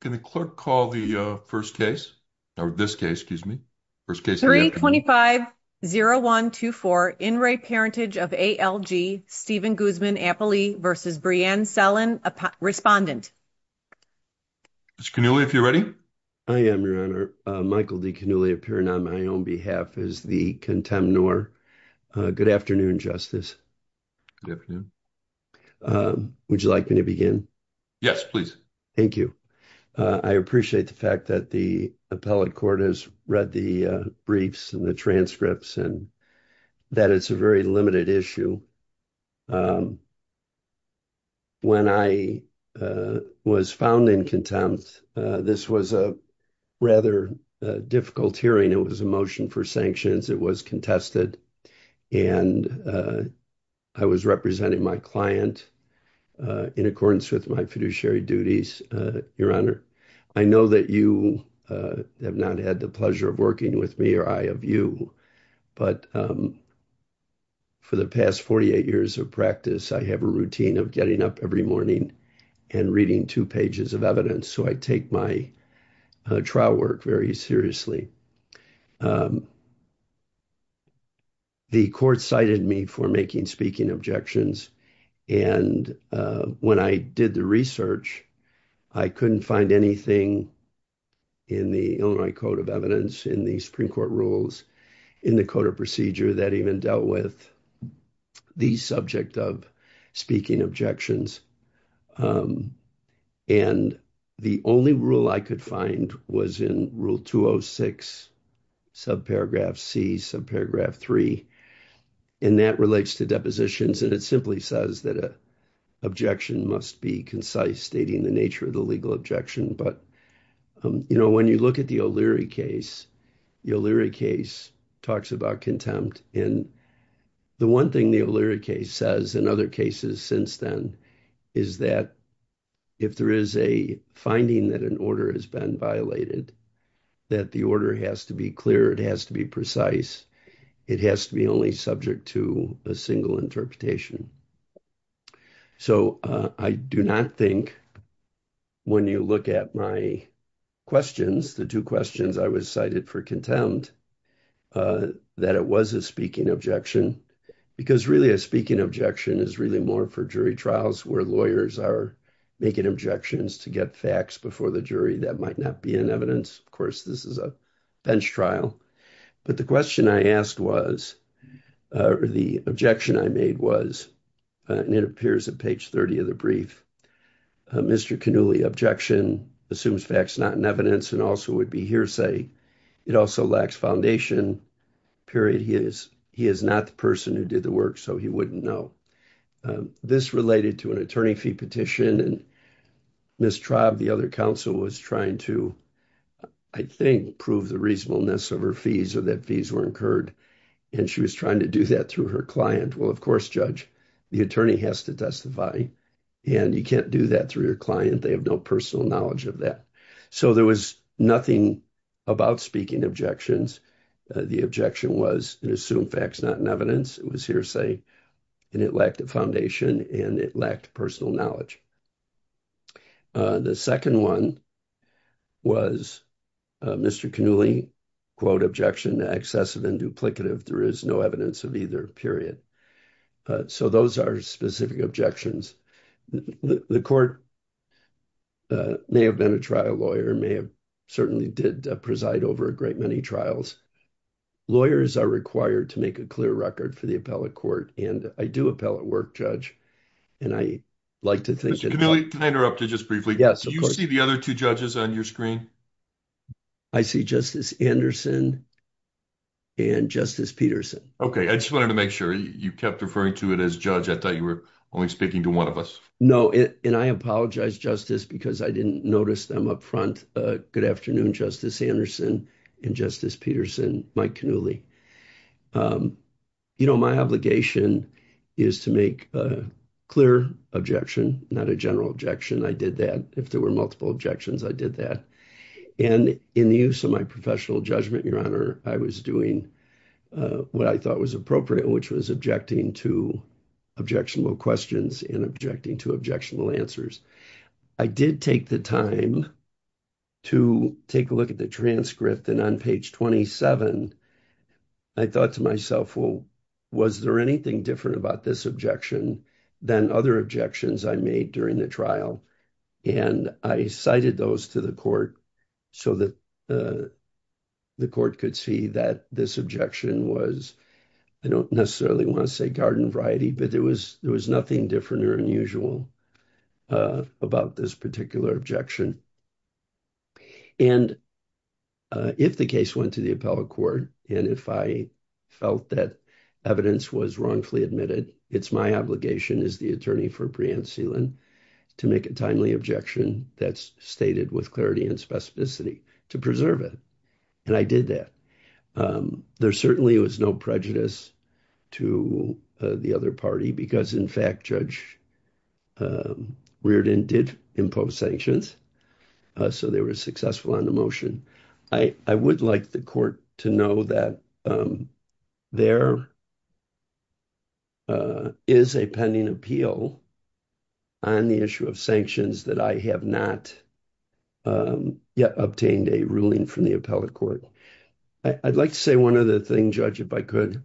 Can the clerk call the, uh, first case or this case? Excuse me. First case 325-0124 in re Parentage of A.L.G. Stephen Guzman-Appley versus Brianne Sellin, a respondent. Mr. Cannulli, if you're ready. I am, your honor. Michael D. Cannulli appearing on my own behalf as the contemnor. Good afternoon, Justice. Good afternoon. Would you like me to begin? Yes, please. Thank you. I appreciate the fact that the appellate court has read the briefs and the transcripts and that it's a very limited issue. When I was found in contempt, this was a rather difficult hearing. It was a motion for sanctions. It was contested, and I was representing my client in accordance with my fiduciary duties, your honor. I know that you have not had the pleasure of working with me or I of you, but for the past 48 years of practice, I have a routine of getting up every morning and reading two pages of evidence, so I take my trial work very seriously. The court cited me for making speaking objections, and when I did the research, I couldn't find anything in the Illinois Code of Evidence, in the Supreme Court rules, in the code of procedure that even dealt with the subject of speaking objections. And the only rule I could find was in Rule 206, subparagraph C, subparagraph 3, and that relates to depositions, and it simply says that an objection must be concise, stating the nature of the legal objection. But, you know, when you look at the O'Leary case, the O'Leary case talks about contempt, and the one thing the O'Leary case says, and other cases since then, is that if there is a finding that an order has been violated, that the order has to be clear, it has to be precise, it has to be only subject to a single interpretation. So I do not think when you look at my questions, the two questions I cited for contempt, that it was a speaking objection, because really a speaking objection is really more for jury trials, where lawyers are making objections to get facts before the jury that might not be in evidence. Of course, this is a bench trial. But the question I asked was, or the objection I made was, and it appears at page 30 of the brief, Mr. Cannulli objection assumes facts not in evidence and also would be hearsay. It also lacks foundation, period. He is not the person who did the work, so he wouldn't know. This related to an attorney fee petition, and Ms. Traub, the other counsel, was trying to, I think, prove the reasonableness of her fees, or that fees were incurred, and she was trying to do that through her client. Well, of course, Judge, the attorney has to testify, and you can't do that through your client. They have no personal knowledge of that. So there was nothing about speaking objections. The objection was, it assumed facts not in evidence. It was hearsay, and it lacked a foundation, and it lacked personal knowledge. The second one was Mr. Cannulli, quote, objection, excessive and duplicative. There is no evidence of either, period. So those are specific objections. The court may have been a trial lawyer, may have certainly did preside over a great many trials. Lawyers are required to make a clear record for the appellate court, and I do appellate work, Judge, and I like to think- Mr. Cannulli, can I interrupt you just briefly? Yes, of course. Do you see the other two judges on your screen? I see Justice Anderson and Justice Peterson. Okay, I just wanted to make sure you kept referring to it as judge. I thought you were only speaking to one of us. No, and I apologize, Justice, because I didn't notice them up front. Good afternoon, Justice Anderson and Justice Peterson, Mike Cannulli. You know, my obligation is to make a clear objection, not a general objection. I did that. If there were professional judgment, Your Honor, I was doing what I thought was appropriate, which was objecting to objectionable questions and objecting to objectionable answers. I did take the time to take a look at the transcript, and on page 27, I thought to myself, well, was there anything different about this objection than other objections I made during the trial? And I cited those to the court so that the court could see that this objection was, I don't necessarily want to say garden variety, but there was nothing different or unusual about this particular objection. And if the case went to the appellate court, and if I felt that evidence was wrongfully admitted, it's my obligation as the attorney for preempt sealant to make a timely objection that's stated with clarity and specificity to preserve it. And I did that. There certainly was no prejudice to the other party, because in fact, Judge Reardon did impose sanctions, so they were successful on the motion. I would like the court to know that there is a pending appeal on the issue of sanctions that I have not yet obtained a ruling from the appellate court. I'd like to say one other thing, Judge, if I could.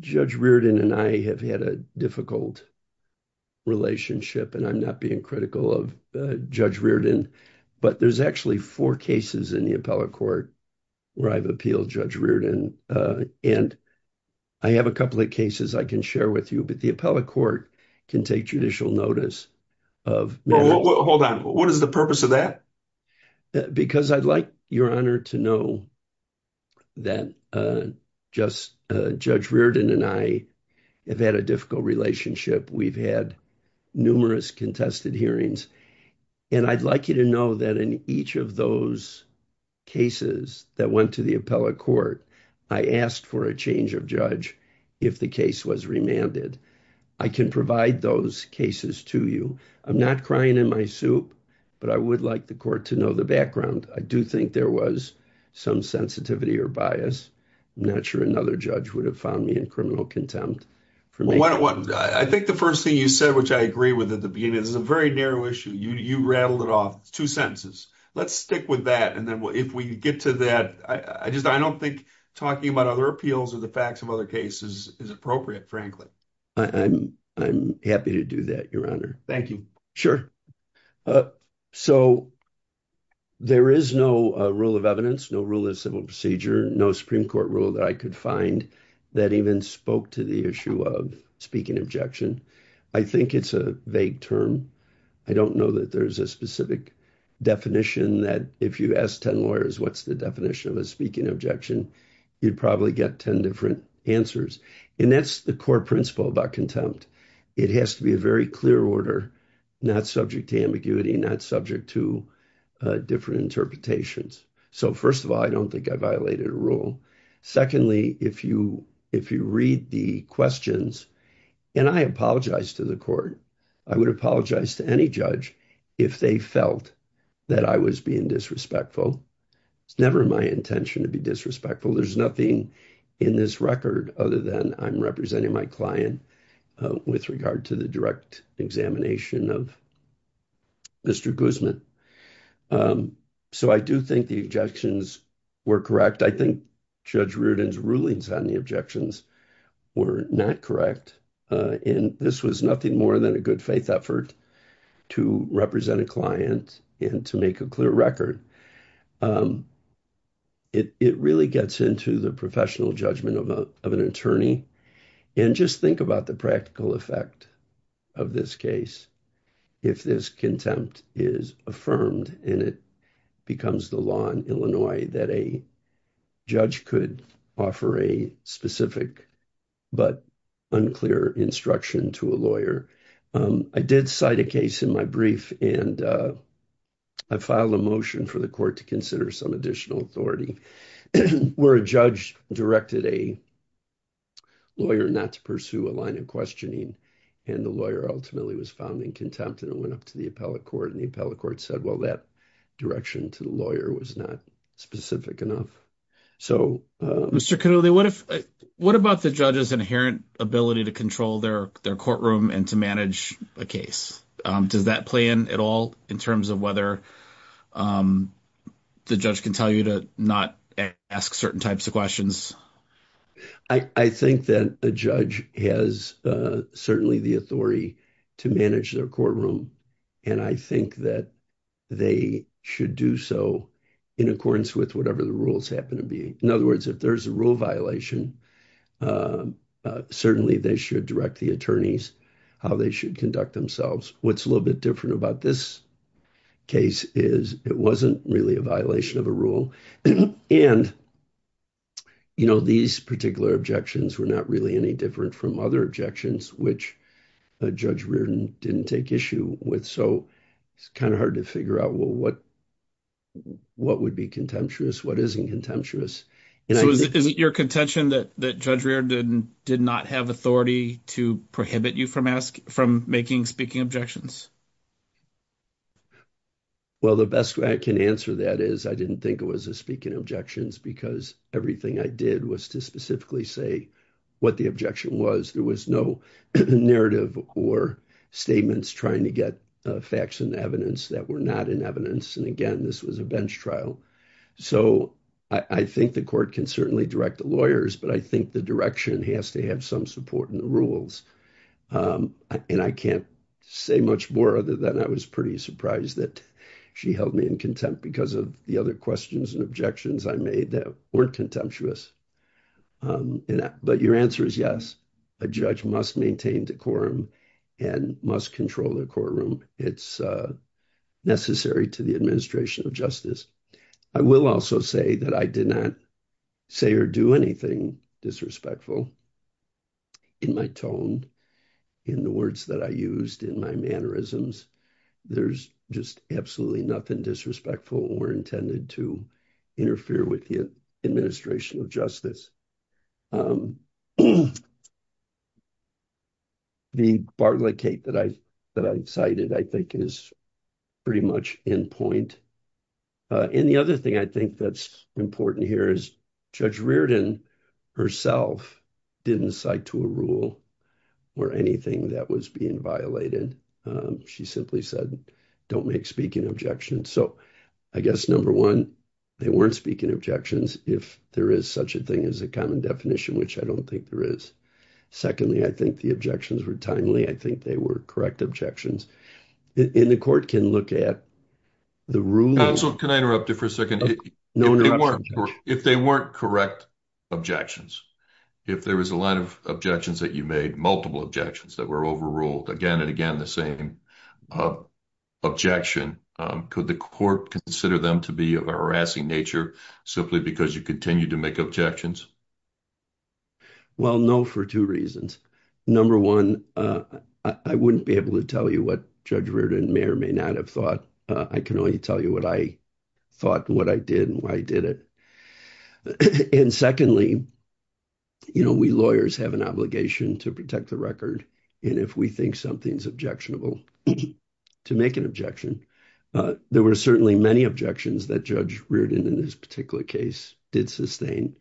Judge Reardon and I have had a difficult relationship, and I'm not being critical of Judge Reardon, but there's actually four cases in the appellate court where I've appealed Judge Reardon. And I have a couple of cases I can share with you, but the appellate court can take judicial notice of- Hold on. What is the purpose of that? Because I'd like your honor to know that Judge Reardon and I have had a difficult relationship. We've had numerous contested hearings, and I'd like you to know that in each of those cases that went to the appellate court, I asked for a change of judge if the case was remanded. I can provide those cases to you. I'm not crying in my soup, but I would like the court to know the background. I do think there was some sensitivity or bias. I'm not sure another judge would have found me in criminal contempt. I think the first thing you said, which I agree with at the beginning, this is a very narrow issue. You rattled it off. It's two sentences. Let's stick with that. And then if we get to that, I don't think talking about other appeals or the facts of other cases is appropriate, frankly. I'm happy to do that, your honor. Thank you. Sure. So there is no rule of evidence, no rule of civil procedure, no Supreme Court rule that I could find that even spoke to the issue of speaking objection. I think it's a vague term. I don't know that there's a specific definition that if you ask 10 lawyers what's the definition of a speaking objection, you'd probably get 10 different answers. And that's the core principle about contempt. It has to be a very clear order, not subject to ambiguity, not subject to different interpretations. So first of all, I don't think I violated a rule. Secondly, if you read the questions, and I apologize to the court, I would apologize to any judge if they felt that I was being disrespectful. It's never my intention to be disrespectful. There's nothing in this record other than I'm representing my client with regard to the direct examination of Mr. Guzman. So I do think the objections were correct. I think Judge Reardon's rulings on the objections were not correct. And this was nothing more than a good faith effort to represent a client and to make a clear record. It really gets into the professional judgment of an attorney. And just think about the practical judge could offer a specific but unclear instruction to a lawyer. I did cite a case in my brief, and I filed a motion for the court to consider some additional authority where a judge directed a lawyer not to pursue a line of questioning. And the lawyer ultimately was found in contempt, and it went up to the appellate court. And the appellate court said, well, that direction to the lawyer was not specific enough. Mr. Connolly, what about the judge's inherent ability to control their courtroom and to manage a case? Does that play in at all in terms of whether the judge can tell you to not ask certain types of questions? I think that a judge has certainly the authority to manage their courtroom. And I think that they should do so in accordance with whatever the rules happen to be. In other words, if there's a rule violation, certainly they should direct the attorneys how they should conduct themselves. What's a little bit different about this case is it wasn't really a violation of a rule. And these particular objections were not really any different from other objections, which Judge Reardon didn't take issue with. So it's kind of hard to figure out, well, what would be contemptuous? What isn't contemptuous? So is it your contention that Judge Reardon did not have authority to prohibit you from making speaking objections? Well, the best way I can answer that is I didn't think it was a speaking objections because everything I did was to specifically say what the objection was. There was no narrative or statements trying to get facts and evidence that were not in evidence. And again, this was a bench trial. So I think the court can certainly direct the lawyers, but I think the direction has to have some support in the rules. And I can't say much more other than I was pretty surprised that she held me in contempt because of the other questions and objections I made that weren't contemptuous. But your answer is yes, a judge must maintain decorum and must control the courtroom. It's necessary to the administration of justice. I will also say that I did not say or do anything disrespectful in my tone, in the words that I used, in my mannerisms. There's just absolutely nothing disrespectful or intended to interfere with the administration of justice. The barricade that I cited, I think is pretty much in point. And the other thing I think that's important here is Judge Reardon herself didn't cite to a rule or anything that was being violated. She simply said, don't make speaking objections. So I guess, number one, they weren't speaking objections if there is such a thing as a common definition, which I don't think there is. Secondly, I think the objections were timely. I think they were correct objections. And the court can look at the ruling- Counsel, can I interrupt you for a second? Okay, no interruptions. If they weren't correct objections, if there was a lot of objections that you made, multiple objections that were overruled, again and again the same objection, could the court consider them to be of a harassing nature simply because you continue to make objections? Well, no, for two reasons. Number one, I wouldn't be able to tell you what Judge Reardon may or may not have thought. I can only tell you what I thought, what I did, and why I did it. And secondly, you know, we lawyers have an obligation to protect the record. And if we think something's objectionable, to make an objection. There were certainly many objections that Judge Reardon, in this particular case, did sustain.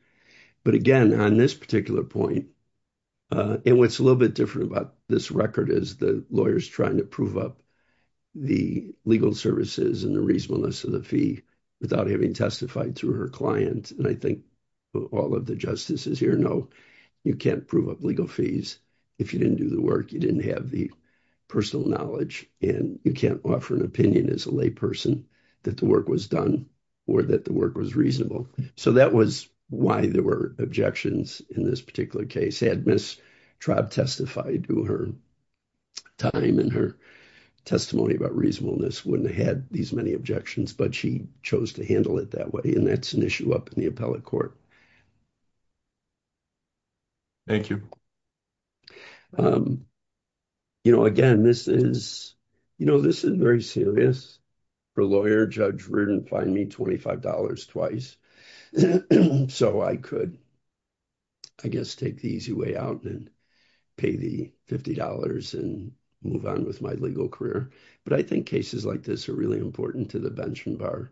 But again, on this particular point, and what's a little bit different about this record is the lawyer's trying to prove up the legal services and the reasonableness of the fee without having testified to her client. And I think all of the justices here know you can't prove up legal fees if you didn't do the work, you didn't have the personal knowledge, and you can't offer an opinion as a lay person that the work was done or that the work was reasonable. So that was why there were objections in this particular case. Had Ms. Traub testified to her time and her testimony about reasonableness, wouldn't have had these many objections, but she chose to handle it that way. And that's an issue up in the appellate court. Thank you. You know, again, this is, you know, this is very serious. For a lawyer, Judge Reardon fined me $25 twice. So I could, I guess, take the easy way out and pay the $50 and move on with my legal career. But I think cases like this are really important to the bench and bar.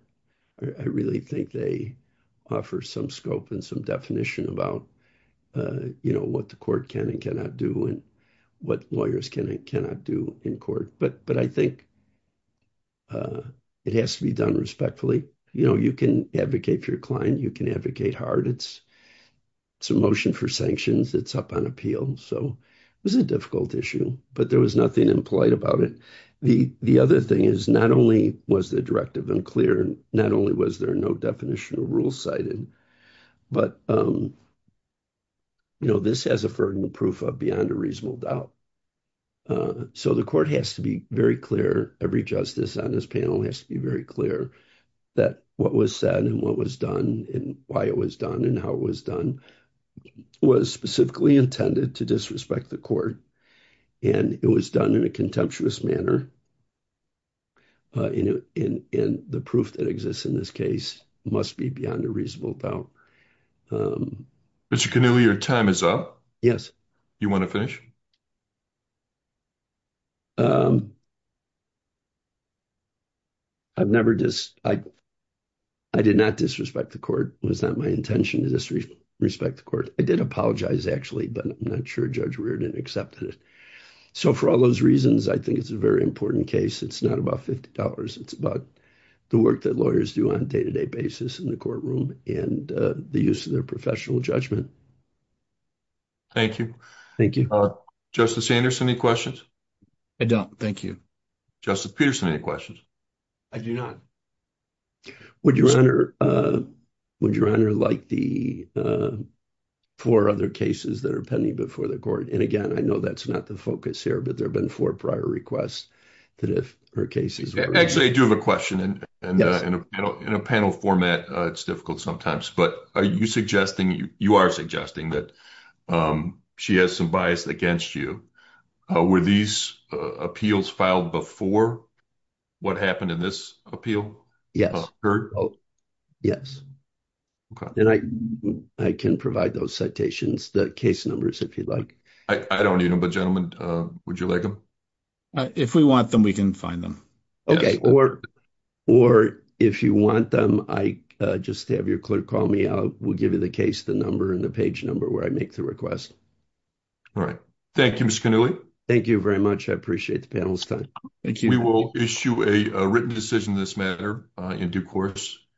I really think they offer some scope and some definition about, you know, what the court can and cannot do and what lawyers can and cannot do in court. But I think it has to be done respectfully. You know, you can advocate for your client, you can advocate hard. It's a motion for sanctions, it's up on appeal. So it was a difficult issue, but there was nothing impolite about it. The other thing is not only was the directive unclear, not only was there no definitional rule cited, but, you know, this has a ferdinand proof of beyond a reasonable doubt. So the court has to be very clear, every justice on this panel has to be very clear that what was said and what was done and why it was done and how it was done was specifically intended to disrespect the court. And it was done in a contemptuous manner. And the proof that exists in this case must be beyond a reasonable doubt. Mr. Canula, your time is up. Yes. You want to finish? I've never just, I did not disrespect the court. It was not my intention to disrespect the court. I did apologize, actually, but I'm not sure Judge Weir didn't accept it. So for all those reasons, I think it's a very important case. It's not about $50. It's about the work that lawyers do on a day-to-day basis in the courtroom and the use of their professional judgment. Thank you. Thank you. Justice Anderson, any questions? I don't. Thank you. Justice Peterson, any questions? I do not. Would your honor like the four other cases that are pending before the court? And again, I know that's not the focus here, but there have been four prior requests that if her cases- Actually, I do have a question and in a panel format, it's difficult sometimes, but are you suggesting, you are suggesting that she has some bias against you. Were these appeals filed before what happened in this appeal? Yes. Yes. And I can provide those citations, the case numbers if you'd like. I don't need them, but gentlemen, would you like them? If we want them, we can find them. Okay. Or if you want them, just have your clerk call me. I will give you the case, the number, and the page number where I make the request. All right. Thank you, Mr. Cannulli. Thank you very much. I appreciate the panel's time. We will issue a written decision on this matter in due course.